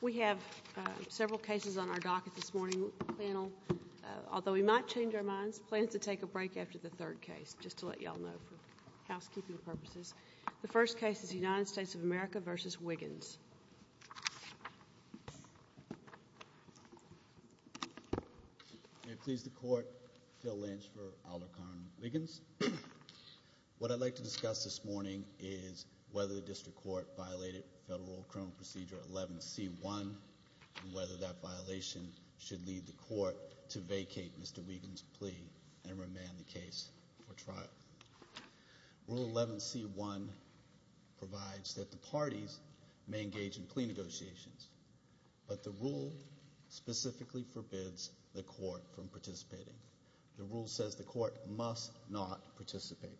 We have several cases on our docket this morning. Although we might change our minds, we plan to take a break after the third case, just to let you all know for housekeeping purposes. The first case is United States of America v. Wiggins. May it please the Court, Phil Lynch for Alarcon Wiggins. What I'd like to discuss this morning is whether the District Court violated Federal Criminal Procedure 11C1 and whether that violation should lead the Court to vacate Mr. Wiggins' plea and remand the case for trial. Rule 11C1 provides that the parties may engage in plea negotiations, but the rule specifically forbids the Court from participating. The rule says the Court must not participate.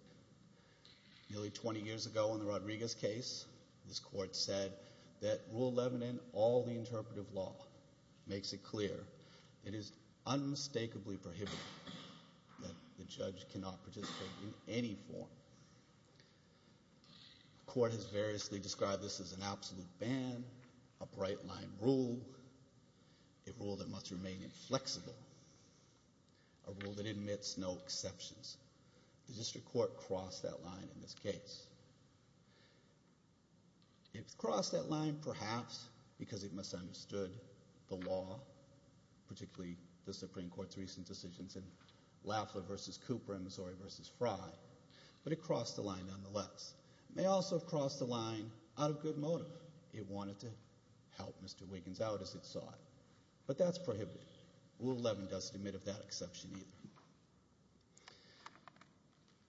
Nearly 20 years ago in the Rodriguez case, this Court said that Rule 11 and all the interpretive law makes it clear it is unmistakably prohibited that the judge cannot participate in any form. The Court has variously described this as an absolute ban, a bright-line rule, a rule that must remain inflexible, a rule that admits no exceptions. The District Court crossed that line in this case. It crossed that line perhaps because it misunderstood the law, particularly the Supreme Court's recent decisions in Lafler v. Cooper and Missouri v. Frye, but it crossed the line nonetheless. It may also have crossed the line out of good motive. It wanted to help Mr. Wiggins out as it saw it, but that's prohibited. Rule 11 doesn't admit of that exception either.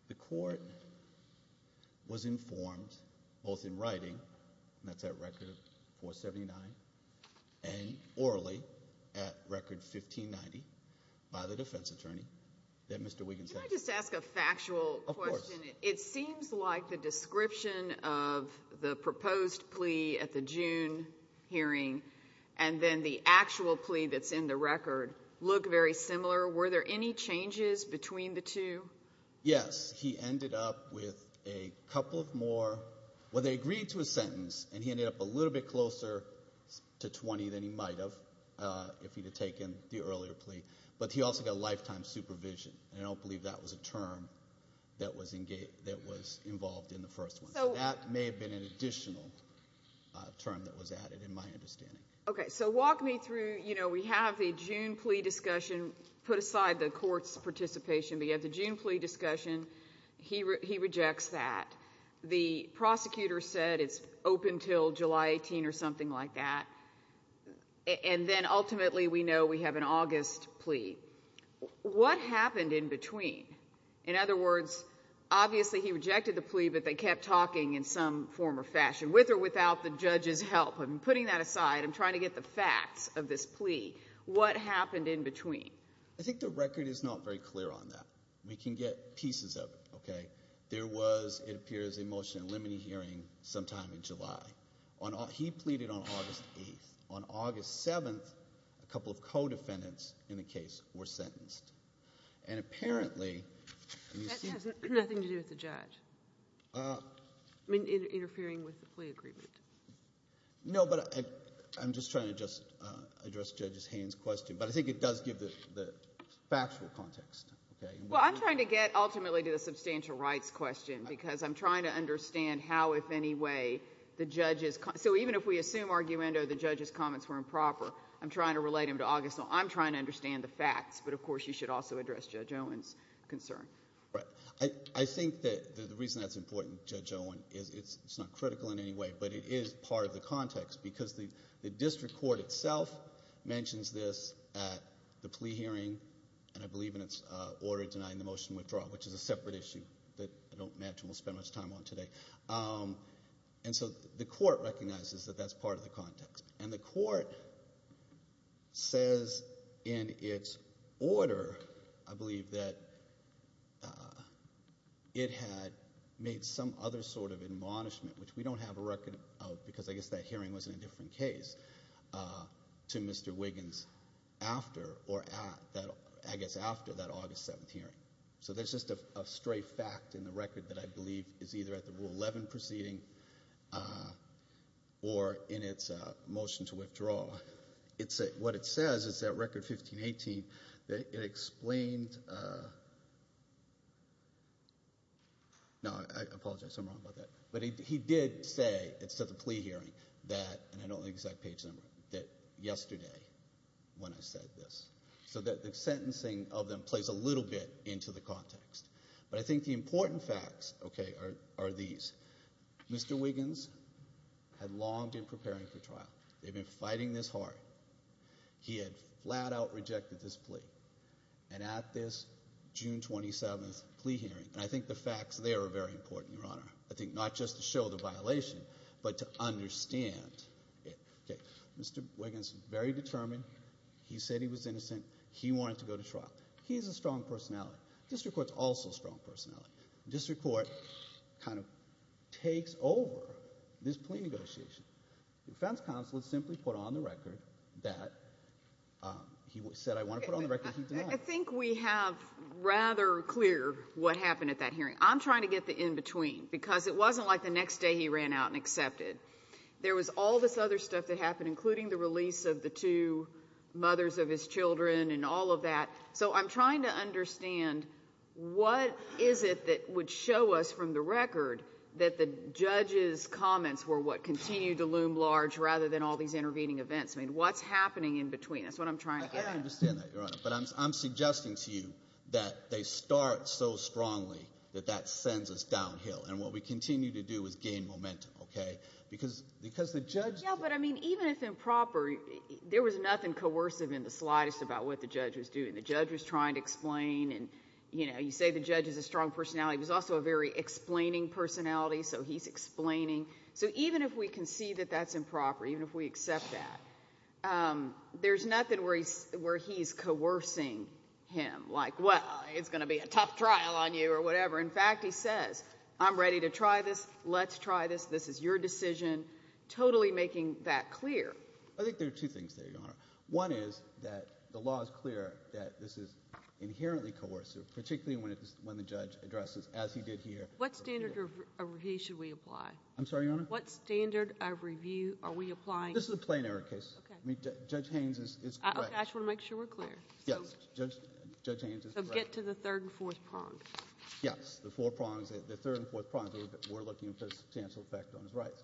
The Court was informed both in writing, and that's at Record 479, and orally at Record 1590 by the defense attorney that Mr. Wiggins had— Can I just ask a factual question? Of course. It seems like the description of the proposed plea at the June hearing and then the actual plea that's in the record look very similar. Were there any changes between the two? Yes. He ended up with a couple of more—well, they agreed to a sentence, and he ended up a little bit closer to 20 than he might have if he had taken the earlier plea. But he also got lifetime supervision, and I don't believe that was a term that was involved in the first one. So that may have been an additional term that was added in my understanding. Okay, so walk me through—we have the June plea discussion. Put aside the Court's participation, we have the June plea discussion. He rejects that. The prosecutor said it's open until July 18 or something like that, and then ultimately we know we have an August plea. What happened in between? In other words, obviously he rejected the plea, but they kept talking in some form or fashion, with or without the judge's help. I'm putting that aside. I'm trying to get the facts of this plea. What happened in between? I think the record is not very clear on that. We can get pieces of it. There was, it appears, a motion in limine hearing sometime in July. He pleaded on August 8. On August 7, a couple of co-defendants in the case were sentenced. And apparently— That has nothing to do with the judge. I mean, interfering with the plea agreement. No, but I'm just trying to address Judge Haynes' question, but I think it does give the factual context. Well, I'm trying to get ultimately to the substantial rights question because I'm trying to understand how, if any way, the judge's— so even if we assume arguendo the judge's comments were improper, I'm trying to relate them to August. So I'm trying to understand the facts, but of course you should also address Judge Owen's concern. Right. I think that the reason that's important, Judge Owen, is it's not critical in any way, but it is part of the context because the district court itself mentions this at the plea hearing, and I believe in its order denying the motion withdrawal, which is a separate issue that I don't imagine we'll spend much time on today. And so the court recognizes that that's part of the context. And the court says in its order, I believe, that it had made some other sort of admonishment, which we don't have a record of because I guess that hearing was in a different case, to Mr. Wiggins after— or I guess after that August 7th hearing. So there's just a stray fact in the record that I believe is either at the Rule 11 proceeding or in its motion to withdraw. What it says is that Record 1518, it explained—no, I apologize. I'm wrong about that. But he did say, at the plea hearing, that—and I don't have the exact page number—that yesterday when I said this. So the sentencing of them plays a little bit into the context. But I think the important facts, okay, are these. Mr. Wiggins had long been preparing for trial. They'd been fighting this hard. He had flat-out rejected this plea. And at this June 27th plea hearing—and I think the facts there are very important, Your Honor. I think not just to show the violation, but to understand it. Okay, Mr. Wiggins, very determined. He said he was innocent. He wanted to go to trial. He has a strong personality. District Court's also a strong personality. District Court kind of takes over this plea negotiation. The defense counsel simply put on the record that he said, I want to put on the record he denied. I think we have rather clear what happened at that hearing. I'm trying to get the in-between because it wasn't like the next day he ran out and accepted. There was all this other stuff that happened, including the release of the two mothers of his children and all of that. So I'm trying to understand what is it that would show us from the record that the judge's comments were what continued to loom large rather than all these intervening events. I mean, what's happening in between? That's what I'm trying to get at. I understand that, Your Honor. But I'm suggesting to you that they start so strongly that that sends us downhill. And what we continue to do is gain momentum. Okay? Yeah, but I mean, even if improper, there was nothing coercive in the slightest about what the judge was doing. The judge was trying to explain. And, you know, you say the judge has a strong personality. He was also a very explaining personality, so he's explaining. So even if we can see that that's improper, even if we accept that, there's nothing where he's coercing him. Like, well, it's going to be a tough trial on you or whatever. In fact, he says, I'm ready to try this, let's try this, this is your decision, totally making that clear. I think there are two things there, Your Honor. One is that the law is clear that this is inherently coercive, particularly when the judge addresses, as he did here. What standard of review should we apply? I'm sorry, Your Honor? What standard of review are we applying? This is a plain error case. Okay. Judge Haynes is correct. Okay, I just want to make sure we're clear. Yes, Judge Haynes is correct. So get to the third and fourth prong. Yes, the four prongs, the third and fourth prongs, we're looking for substantial effect on his rights.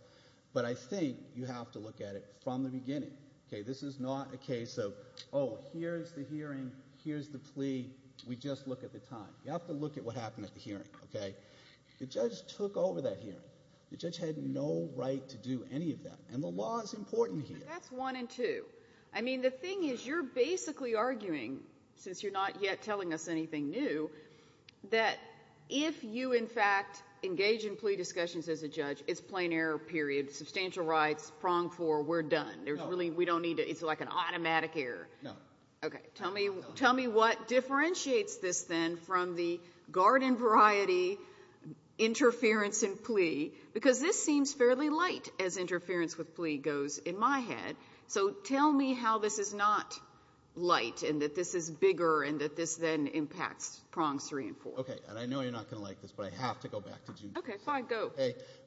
But I think you have to look at it from the beginning. Okay, this is not a case of, oh, here's the hearing, here's the plea, we just look at the time. You have to look at what happened at the hearing. Okay? The judge took over that hearing. The judge had no right to do any of that, and the law is important here. That's one and two. I mean, the thing is, you're basically arguing, since you're not yet telling us anything new, that if you, in fact, engage in plea discussions as a judge, it's plain error, period, substantial rights, prong four, we're done. It's like an automatic error. No. Okay. Tell me what differentiates this, then, from the garden variety interference in plea, because this seems fairly light as interference with plea goes in my head. So tell me how this is not light and that this is bigger and that this, then, impacts prongs three and four. Okay. And I know you're not going to like this, but I have to go back to June. Okay, fine. Go.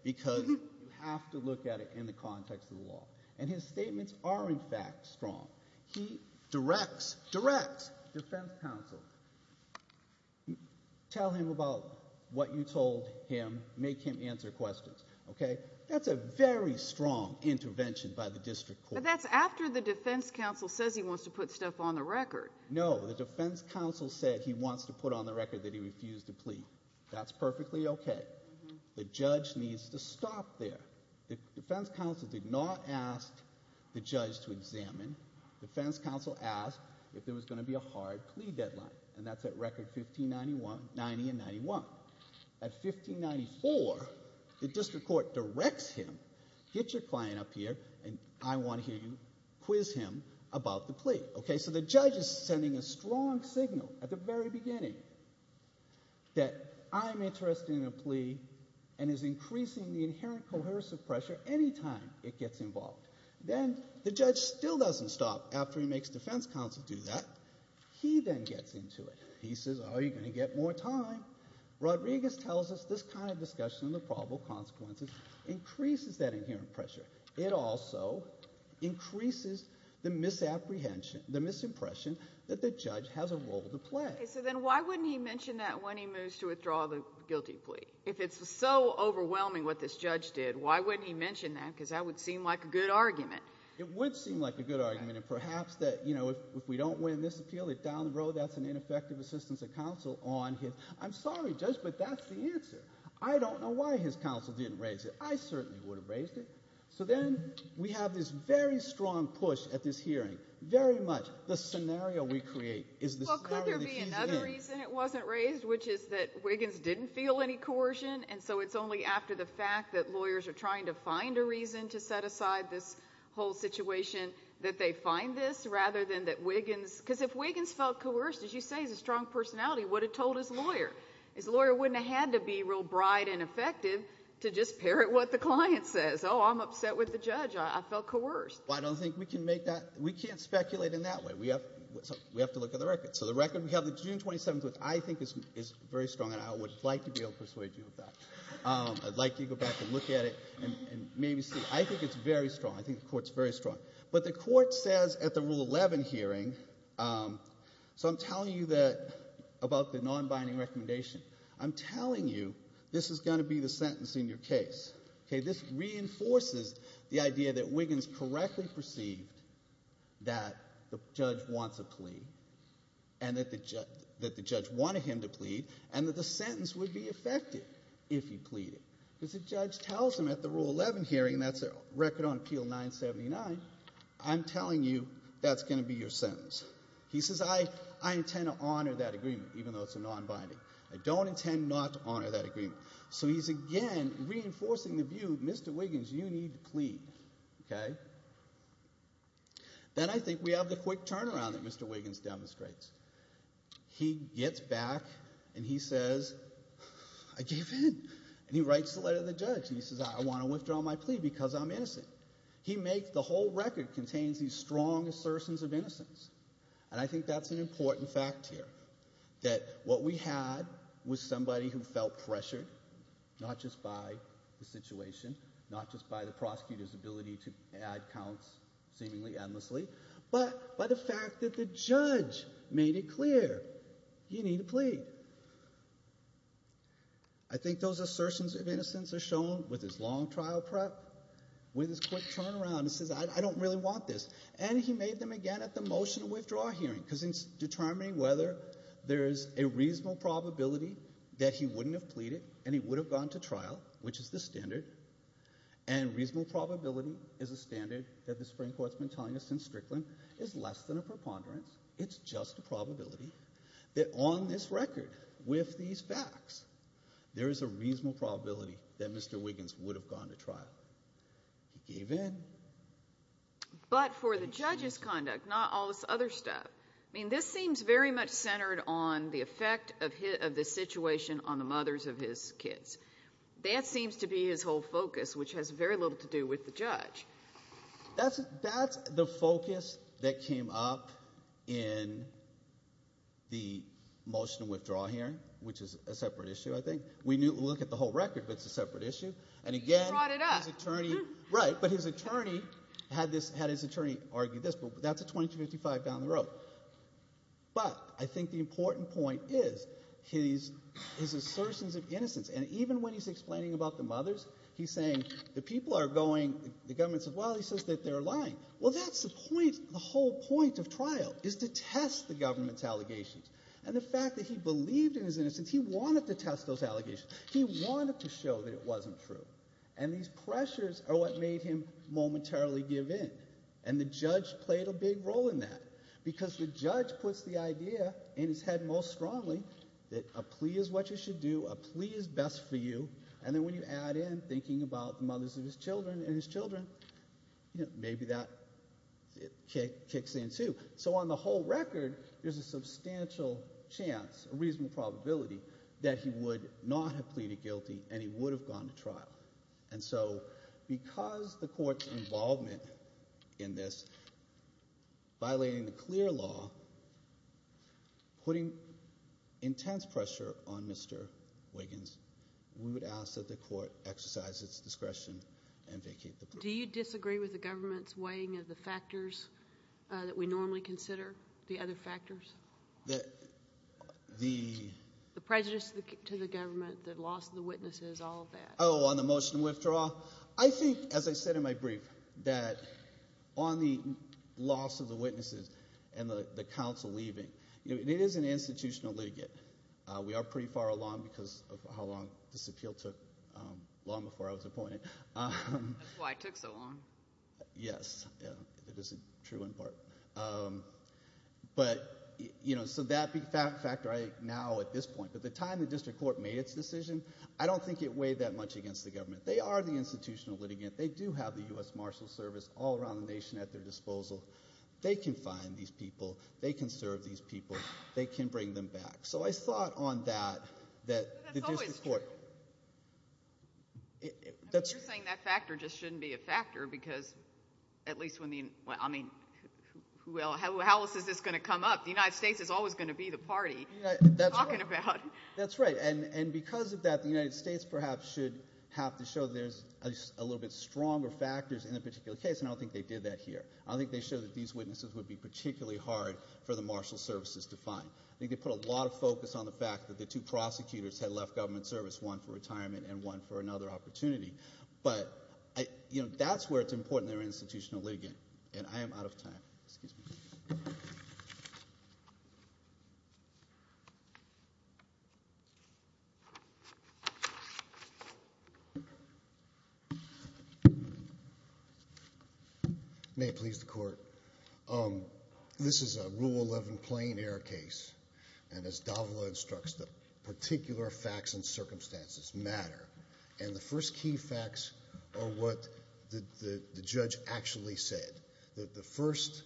Because you have to look at it in the context of the law. And his statements are, in fact, strong. He directs defense counsel, tell him about what you told him, make him answer questions. Okay? That's a very strong intervention by the district court. But that's after the defense counsel says he wants to put stuff on the record. No. The defense counsel said he wants to put on the record that he refused to plea. That's perfectly okay. The judge needs to stop there. The defense counsel did not ask the judge to examine. Defense counsel asked if there was going to be a hard plea deadline, and that's at record 1590 and 91. At 1594, the district court directs him, get your client up here, and I want to hear you quiz him about the plea. Okay? So the judge is sending a strong signal at the very beginning that I'm interested in a plea and is increasing the inherent coercive pressure any time it gets involved. Then the judge still doesn't stop after he makes defense counsel do that. He then gets into it. He says, oh, you're going to get more time. Rodriguez tells us this kind of discussion of the probable consequences increases that inherent pressure. It also increases the misapprehension, the misimpression that the judge has a role to play. Okay, so then why wouldn't he mention that when he moves to withdraw the guilty plea? If it's so overwhelming what this judge did, why wouldn't he mention that? Because that would seem like a good argument. It would seem like a good argument. And perhaps that if we don't win this appeal that down the road that's an ineffective assistance of counsel on his. I'm sorry, Judge, but that's the answer. I don't know why his counsel didn't raise it. I certainly would have raised it. So then we have this very strong push at this hearing, very much the scenario we create is the scenario that he's in. Well, could there be another reason it wasn't raised, which is that Wiggins didn't feel any coercion, and so it's only after the fact that lawyers are trying to find a reason to set aside this whole situation that they find this, rather than that Wiggins, because if Wiggins felt coerced, as you say, he's a strong personality, what had he told his lawyer? His lawyer wouldn't have had to be real bright and effective to just parrot what the client says. Oh, I'm upset with the judge. I felt coerced. Well, I don't think we can make that, we can't speculate in that way. We have to look at the record. So the record, we have the June 27th, which I think is very strong, and I would like to be able to persuade you of that. I'd like you to go back and look at it and maybe see. I think it's very strong. I think the Court's very strong. But the Court says at the Rule 11 hearing, so I'm telling you about the non-binding recommendation, I'm telling you this is going to be the sentence in your case. Okay, this reinforces the idea that Wiggins correctly perceived that the judge wants a plea and that the judge wanted him to plead and that the sentence would be effective if he pleaded. Because the judge tells him at the Rule 11 hearing, and that's a record on Appeal 979, I'm telling you that's going to be your sentence. He says, I intend to honor that agreement, even though it's a non-binding. I don't intend not to honor that agreement. So he's, again, reinforcing the view, Mr. Wiggins, you need to plead. Okay? Then I think we have the quick turnaround that Mr. Wiggins demonstrates. He gets back and he says, I gave in. And he writes the letter to the judge and he says, I want to withdraw my plea because I'm innocent. He makes the whole record contains these strong assertions of innocence. And I think that's an important fact here, that what we had was somebody who felt pressured, not just by the situation, not just by the prosecutor's ability to add counts seemingly endlessly, but by the fact that the judge made it clear, you need to plead. I think those assertions of innocence are shown with this long trial prep, with this quick turnaround. He says, I don't really want this. And he made them again at the motion to withdraw hearing, because in determining whether there is a reasonable probability that he wouldn't have pleaded and he would have gone to trial, which is the standard, and reasonable probability is a standard that the Supreme Court's been telling us since Strickland, is less than a preponderance. It's just a probability that on this record, with these facts, there is a reasonable probability that Mr. Wiggins would have gone to trial. He gave in. But for the judge's conduct, not all this other stuff, I mean this seems very much centered on the effect of this situation on the mothers of his kids. That seems to be his whole focus, which has very little to do with the judge. That's the focus that came up in the motion to withdraw hearing, which is a separate issue, I think. We look at the whole record, but it's a separate issue. He brought it up. Right. But his attorney had his attorney argue this. That's a 2255 down the road. But I think the important point is his assertions of innocence. And even when he's explaining about the mothers, he's saying the people are going, the government says, well, he says that they're lying. Well, that's the point, the whole point of trial is to test the government's allegations. And the fact that he believed in his innocence, he wanted to test those allegations. He wanted to show that it wasn't true. And these pressures are what made him momentarily give in. And the judge played a big role in that. Because the judge puts the idea in his head most strongly that a plea is what you should do, a plea is best for you, and then when you add in thinking about the mothers of his children and his children, maybe that kicks in, too. So on the whole record, there's a substantial chance, a reasonable probability, that he would not have pleaded guilty and he would have gone to trial. And so because the court's involvement in this, violating the clear law, putting intense pressure on Mr. Wiggins, we would ask that the court exercise its discretion and vacate the plea. Do you disagree with the government's weighing of the factors that we normally consider, the other factors, the prejudice to the government, the loss of the witnesses, all of that? Oh, on the motion to withdraw? I think, as I said in my brief, that on the loss of the witnesses and the counsel leaving, it is an institutional litigate. We are pretty far along because of how long this appeal took, long before I was appointed. That's why it took so long. Yes, it is true in part. But, you know, so that factor right now at this point, at the time the district court made its decision, I don't think it weighed that much against the government. They are the institutional litigate. They do have the U.S. Marshals Service all around the nation at their disposal. They can find these people. They can serve these people. They can bring them back. So I thought on that that the district court. You're saying that factor just shouldn't be a factor because at least when the, I mean, how else is this going to come up? The United States is always going to be the party you're talking about. That's right. And because of that, the United States perhaps should have to show there's a little bit stronger factors in a particular case, and I don't think they did that here. I don't think they showed that these witnesses would be particularly hard for the Marshals Services to find. I think they put a lot of focus on the fact that the two prosecutors had left government service, one for retirement and one for another opportunity. But, you know, that's where it's important they're institutional litigate, and I am out of time. Excuse me. May it please the Court. This is a Rule 11 Plain Air case, and as Davila instructs, the particular facts and circumstances matter. And the first key facts are what the judge actually said. The first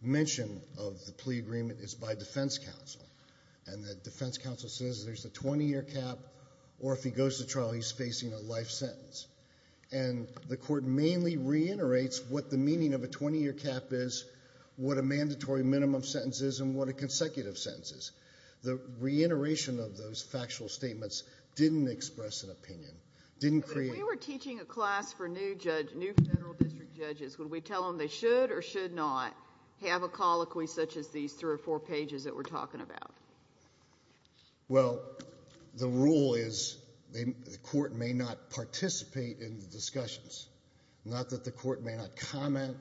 mention of the plea agreement is by defense counsel, and the defense counsel says there's a 20-year cap or if he goes to trial he's facing a life sentence. And the Court mainly reiterates what the meaning of a 20-year cap is, what a mandatory minimum sentence is, and what a consecutive sentence is. The reiteration of those factual statements didn't express an opinion, didn't create. If we were teaching a class for new federal district judges, would we tell them they should or should not have a colloquy such as these three or four pages that we're talking about? Well, the rule is the Court may not participate in the discussions, not that the Court may not comment,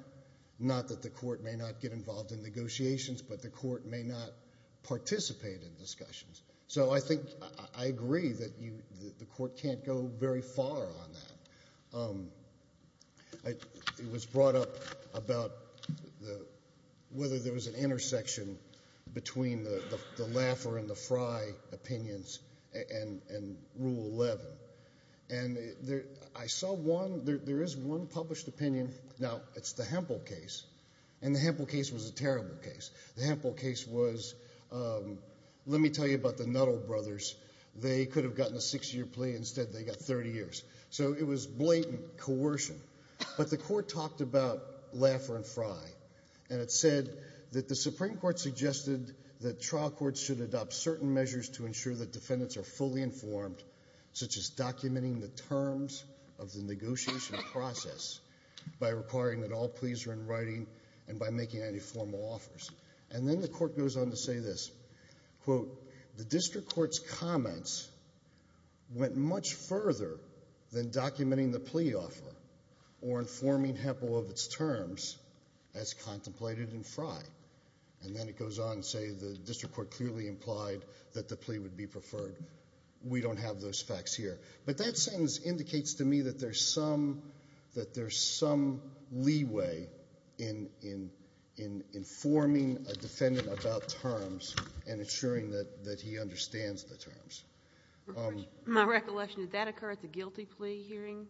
not that the Court may not get involved in negotiations, but the Court may not participate in discussions. So I think I agree that the Court can't go very far on that. It was brought up about whether there was an intersection between the Laffer and the Frey opinions and Rule 11. And I saw one, there is one published opinion, now it's the Hempel case, and the Hempel case was a terrible case. The Hempel case was, let me tell you about the Nuttall brothers, they could have gotten a six-year plea, instead they got 30 years. So it was blatant coercion. But the Court talked about Laffer and Frey, and it said that the Supreme Court suggested that trial courts should adopt certain measures to ensure that defendants are fully informed, such as documenting the terms of the negotiation process by requiring that all pleas are in writing and by making any formal offers. And then the Court goes on to say this, quote, the district court's comments went much further than documenting the plea offer or informing Hempel of its terms as contemplated in Frey. And then it goes on to say the district court clearly implied that the plea would be preferred. We don't have those facts here. But that sentence indicates to me that there's some leeway in informing a defendant about terms and ensuring that he understands the terms. My recollection, did that occur at the guilty plea hearing?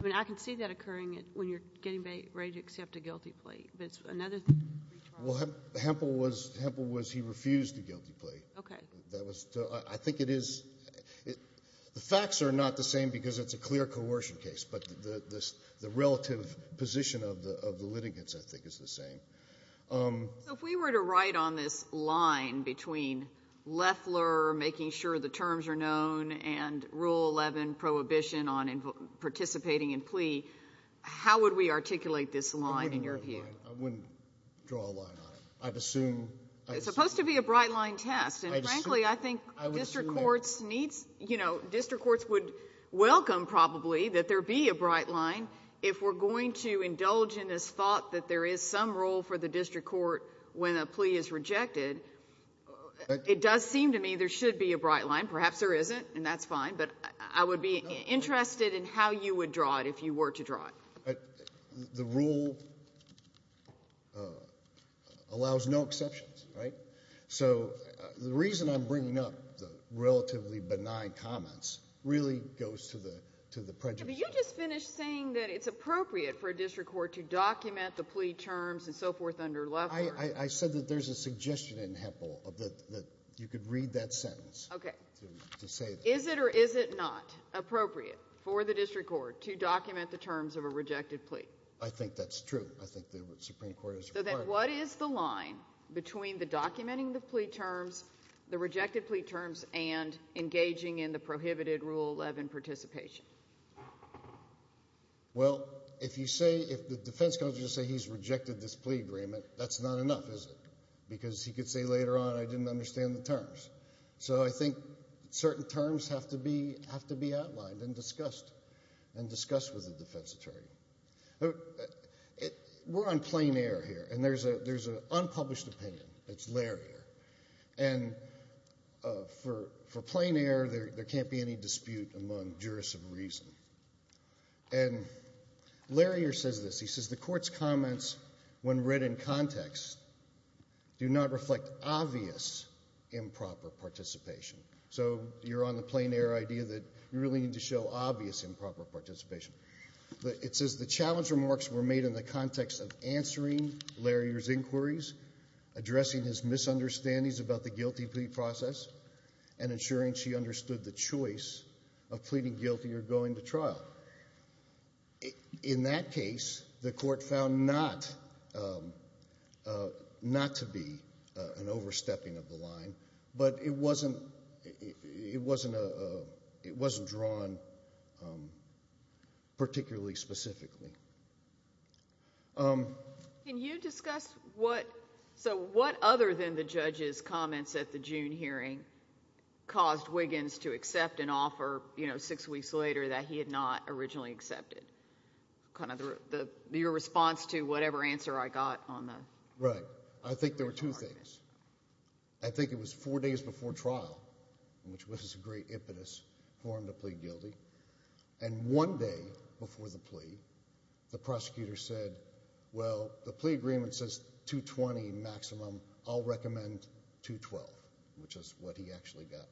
I mean, I can see that occurring when you're getting ready to accept a guilty plea. But it's another thing to retrial. Well, Hempel was he refused a guilty plea. Okay. I think it is the facts are not the same because it's a clear coercion case. But the relative position of the litigants, I think, is the same. So if we were to write on this line between Loeffler making sure the terms are known and Rule 11 prohibition on participating in plea, how would we articulate this line in your view? I wouldn't draw a line on it. It's supposed to be a bright line test. And frankly, I think district courts would welcome probably that there be a bright line. If we're going to indulge in this thought that there is some role for the district court when a plea is rejected, it does seem to me there should be a bright line. Perhaps there isn't, and that's fine. But I would be interested in how you would draw it if you were to draw it. The rule allows no exceptions, right? So the reason I'm bringing up the relatively benign comments really goes to the prejudice. Yeah, but you just finished saying that it's appropriate for a district court to document the plea terms and so forth under Loeffler. I said that there's a suggestion in Hempel that you could read that sentence to say that. Is it or is it not appropriate for the district court to document the terms of a rejected plea? I think that's true. I think the Supreme Court is required. What is the line between the documenting the plea terms, the rejected plea terms, and engaging in the prohibited Rule 11 participation? Well, if you say, if the defense counsel says he's rejected this plea agreement, that's not enough, is it? So I think certain terms have to be outlined and discussed, and discussed with the defense attorney. We're on plain air here, and there's an unpublished opinion. It's Larrier. And for plain air, there can't be any dispute among jurists of reason. And Larrier says this. He says the court's comments, when read in context, do not reflect obvious improper participation. So you're on the plain air idea that you really need to show obvious improper participation. It says the challenge remarks were made in the context of answering Larrier's inquiries, addressing his misunderstandings about the guilty plea process, and ensuring she understood the choice of pleading guilty or going to trial. In that case, the court found not to be an overstepping of the line, but it wasn't drawn particularly specifically. Can you discuss what, so what other than the judge's comments at the June hearing caused Wiggins to accept an offer, you know, six weeks later that he had not originally accepted? Kind of your response to whatever answer I got on that. Right. I think there were two things. I think it was four days before trial, which was a great impetus for him to plead guilty, and one day before the plea, the prosecutor said, well, the plea agreement says $220,000 maximum. I'll recommend $212,000, which is what he actually got.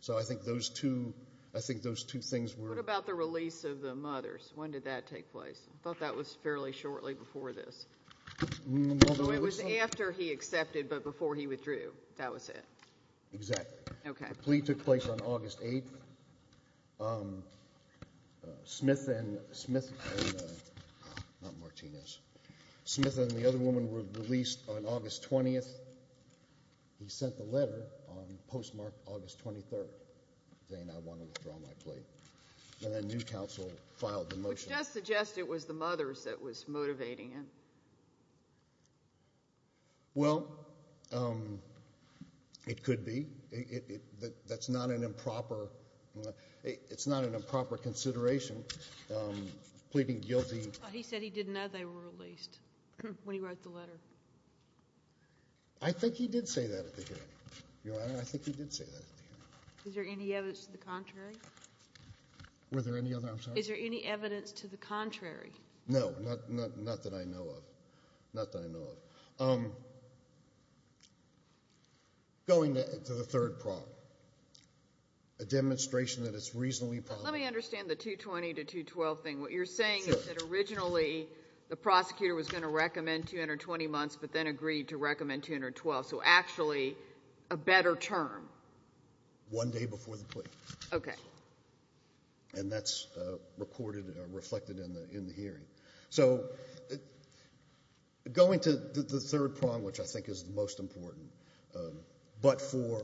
So I think those two things were— What about the release of the mothers? When did that take place? I thought that was fairly shortly before this. It was after he accepted, but before he withdrew. That was it. Exactly. Okay. The plea took place on August 8th. Smith and the other woman were released on August 20th. He sent the letter on postmarked August 23rd, saying I want to withdraw my plea. And then new counsel filed the motion. Which does suggest it was the mothers that was motivating it. Well, it could be. That's not an improper consideration, pleading guilty. He said he didn't know they were released when he wrote the letter. I think he did say that at the hearing, Your Honor. I think he did say that at the hearing. Is there any evidence to the contrary? Were there any other—I'm sorry? Is there any evidence to the contrary? No. Not that I know of. Not that I know of. Going to the third problem. A demonstration that it's reasonably probable. Let me understand the 220 to 212 thing. What you're saying is that originally the prosecutor was going to recommend 220 months, but then agreed to recommend 212. So actually a better term. One day before the plea. Okay. And that's recorded or reflected in the hearing. So going to the third problem, which I think is the most important, but for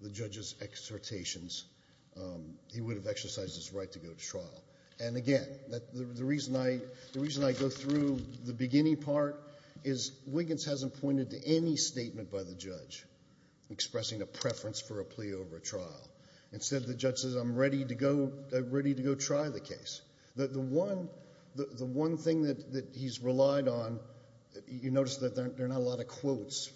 the judge's exhortations, he would have exercised his right to go to trial. And, again, the reason I go through the beginning part is Wiggins hasn't pointed to any statement by the judge Instead the judge says, I'm ready to go try the case. The one thing that he's relied on, you notice that there are not a lot of quotes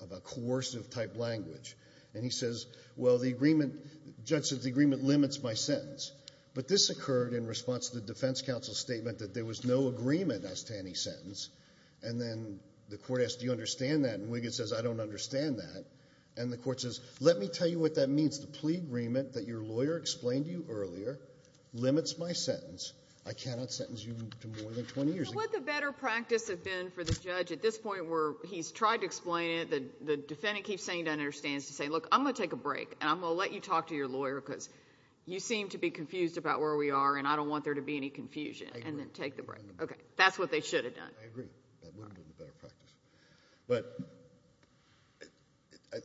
about coercive type language. And he says, well, the agreement, the judge says the agreement limits my sentence. But this occurred in response to the defense counsel's statement that there was no agreement as to any sentence. And then the court asked, do you understand that? And Wiggins says, I don't understand that. And the court says, let me tell you what that means. The plea agreement that your lawyer explained to you earlier limits my sentence. I cannot sentence you to more than 20 years. But what the better practice has been for the judge at this point where he's tried to explain it, the defendant keeps saying he doesn't understand, is to say, look, I'm going to take a break, and I'm going to let you talk to your lawyer because you seem to be confused about where we are, and I don't want there to be any confusion. And then take the break. Okay. That's what they should have done. I agree. That would have been the better practice. But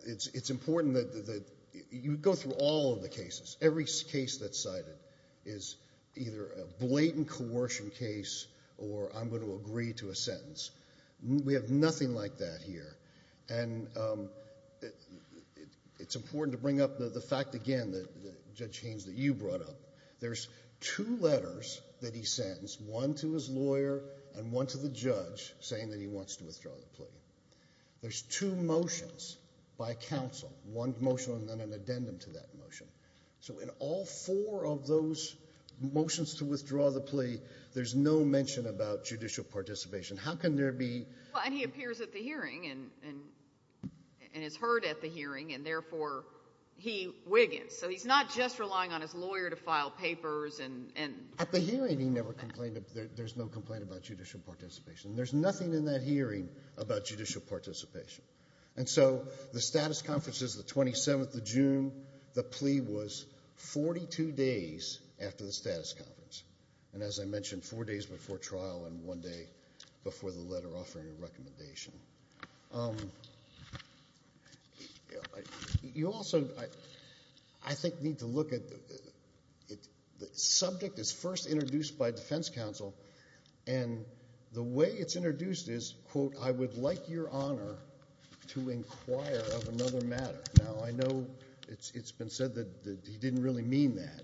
it's important that you go through all of the cases. Every case that's cited is either a blatant coercion case or I'm going to agree to a sentence. We have nothing like that here. And it's important to bring up the fact, again, that Judge Haynes, that you brought up. There's two letters that he sentenced, one to his lawyer and one to the judge, saying that he wants to withdraw the plea. There's two motions by counsel, one motion and then an addendum to that motion. So in all four of those motions to withdraw the plea, there's no mention about judicial participation. How can there be? Well, and he appears at the hearing and is heard at the hearing, and therefore he wiggens. So he's not just relying on his lawyer to file papers. At the hearing he never complained. There's no complaint about judicial participation. There's nothing in that hearing about judicial participation. And so the status conference is the 27th of June. The plea was 42 days after the status conference. And as I mentioned, four days before trial and one day before the letter offering a recommendation. You also, I think, need to look at the subject that's first introduced by defense counsel. And the way it's introduced is, quote, I would like your honor to inquire of another matter. Now, I know it's been said that he didn't really mean that,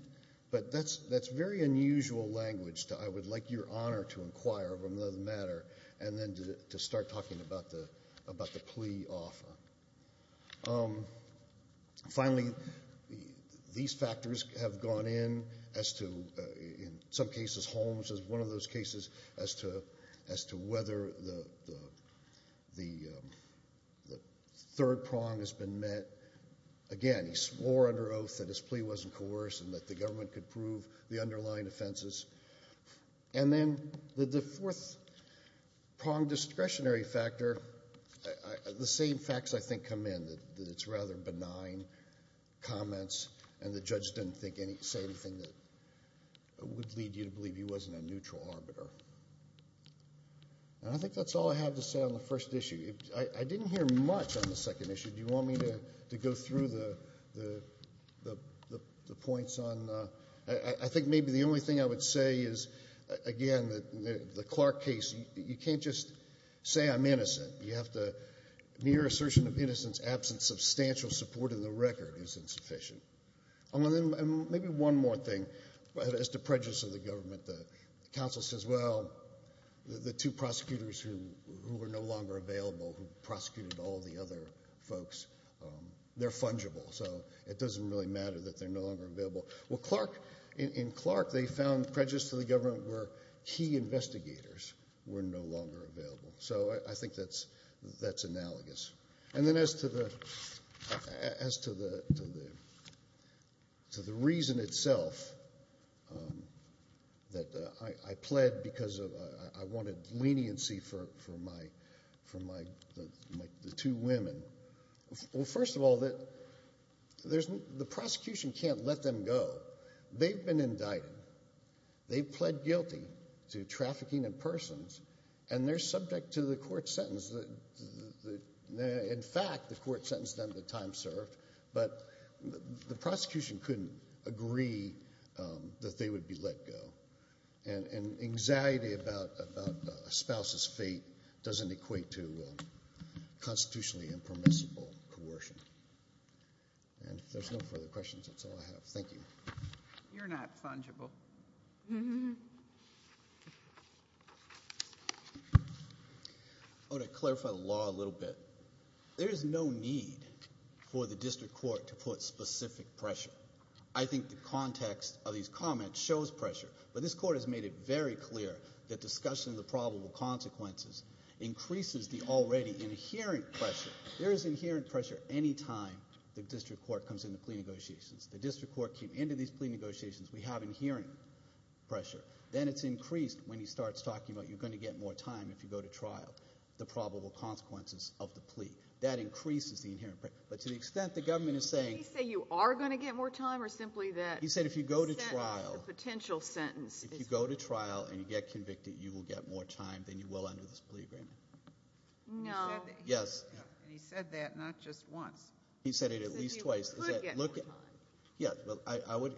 but that's very unusual language to I would like your honor to inquire of another matter and then to start talking about the plea offer. Finally, these factors have gone in as to, in some cases Holmes is one of those cases, as to whether the third prong has been met. Again, he swore under oath that his plea wasn't coerced and that the government could prove the underlying offenses. And then the fourth prong discretionary factor, the same facts, I think, come in, that it's rather benign comments and the judge didn't say anything that would lead you to believe he wasn't a neutral arbiter. And I think that's all I have to say on the first issue. I didn't hear much on the second issue. Do you want me to go through the points on? I think maybe the only thing I would say is, again, the Clark case, you can't just say I'm innocent. You have to, mere assertion of innocence, absence of substantial support in the record is insufficient. And maybe one more thing, as to prejudice of the government, the counsel says, well, the two prosecutors who were no longer available, who prosecuted all the other folks, they're fungible, so it doesn't really matter that they're no longer available. Well, in Clark, they found prejudice to the government where key investigators were no longer available. So I think that's analogous. And then as to the reason itself that I pled because I wanted leniency for the two women, well, first of all, the prosecution can't let them go. They've been indicted. They've pled guilty to trafficking in persons, and they're subject to the court sentence. In fact, the court sentenced them to time served. But the prosecution couldn't agree that they would be let go. And anxiety about a spouse's fate doesn't equate to constitutionally impermissible coercion. And if there's no further questions, that's all I have. Thank you. You're not fungible. I want to clarify the law a little bit. There is no need for the district court to put specific pressure. I think the context of these comments shows pressure. But this court has made it very clear that discussion of the probable consequences increases the already inherent pressure. There is inherent pressure any time the district court comes into plea negotiations. The district court came into these plea negotiations. We have inherent pressure. Then it's increased when he starts talking about you're going to get more time if you go to trial, the probable consequences of the plea. That increases the inherent pressure. But to the extent the government is saying. Did he say you are going to get more time or simply that. He said if you go to trial. The potential sentence. If you go to trial and you get convicted, you will get more time than you will under this plea agreement. No. Yes. And he said that not just once. He said it at least twice. He said you could get more time. Yeah.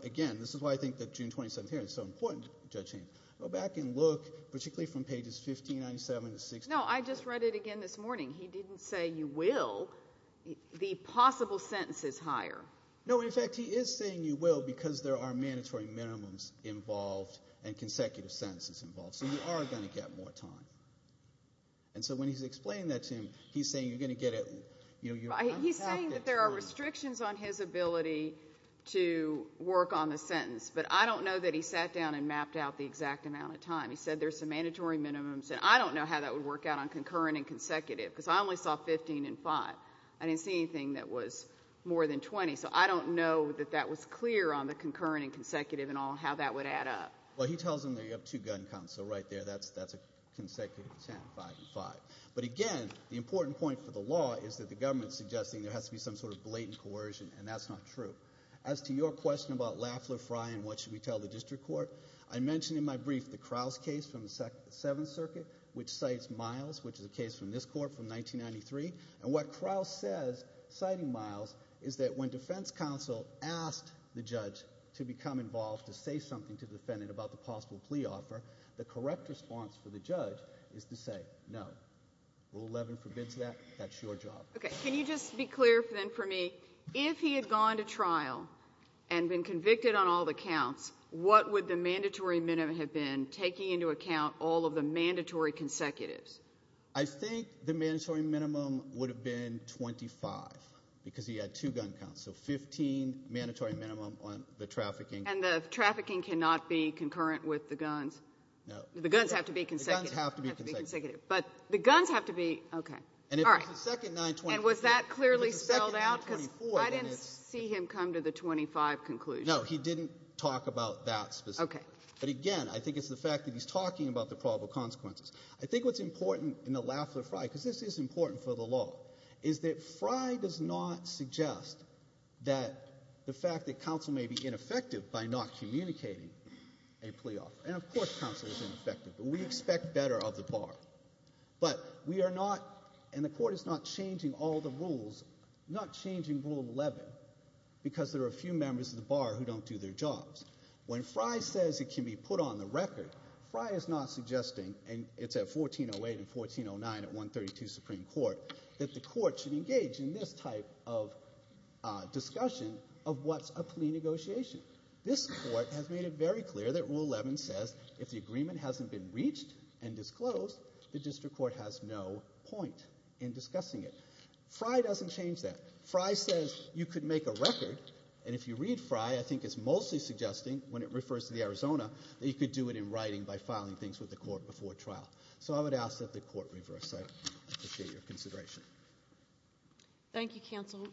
Again, this is why I think the June 27th hearing is so important, Judge Haynes. Go back and look, particularly from pages 1597 to 16. No, I just read it again this morning. He didn't say you will. The possible sentence is higher. No, in fact, he is saying you will because there are mandatory minimums involved and consecutive sentences involved. So you are going to get more time. And so when he's explaining that to him, he's saying you're going to get it. He's saying that there are restrictions on his ability to work on the sentence. But I don't know that he sat down and mapped out the exact amount of time. He said there's some mandatory minimums. And I don't know how that would work out on concurrent and consecutive because I only saw 15 and 5. I didn't see anything that was more than 20. So I don't know that that was clear on the concurrent and consecutive and how that would add up. Well, he tells them they have two gun counts. So right there, that's a consecutive 10, 5, and 5. But, again, the important point for the law is that the government is suggesting there has to be some sort of blatant coercion, and that's not true. As to your question about Lafleur Frye and what should we tell the district court, I mentioned in my brief the Crouse case from the Seventh Circuit, which cites Miles, which is a case from this court from 1993. And what Crouse says, citing Miles, is that when defense counsel asked the judge to become involved, to say something to the defendant about the possible plea offer, the correct response for the judge is to say no. Rule 11 forbids that. That's your job. Okay. Can you just be clear then for me, if he had gone to trial and been convicted on all the counts, what would the mandatory minimum have been, taking into account all of the mandatory consecutives? I think the mandatory minimum would have been 25 because he had two gun counts, so 15 mandatory minimum on the trafficking. And the trafficking cannot be concurrent with the guns? No. The guns have to be consecutive. The guns have to be consecutive. But the guns have to be ‑‑ okay. And was that clearly spelled out? Because I didn't see him come to the 25 conclusion. No, he didn't talk about that specifically. Okay. But, again, I think it's the fact that he's talking about the probable consequences. I think what's important in the Lafler-Frey, because this is important for the law, is that Frey does not suggest that the fact that counsel may be ineffective by not communicating a plea offer. And, of course, counsel is ineffective, but we expect better of the bar. But we are not, and the court is not changing all the rules, not changing Rule 11 because there are a few members of the bar who don't do their jobs. When Frey says it can be put on the record, Frey is not suggesting, and it's at 1408 and 1409 at 132 Supreme Court, that the court should engage in this type of discussion of what's a plea negotiation. This court has made it very clear that Rule 11 says if the agreement hasn't been reached and disclosed, the district court has no point in discussing it. Frey doesn't change that. Frey says you could make a record, and if you read Frey, I think it's mostly suggesting, when it refers to the Arizona, that you could do it in writing by filing things with the court before trial. So I would ask that the court reverse that. I appreciate your consideration. Thank you, counsel.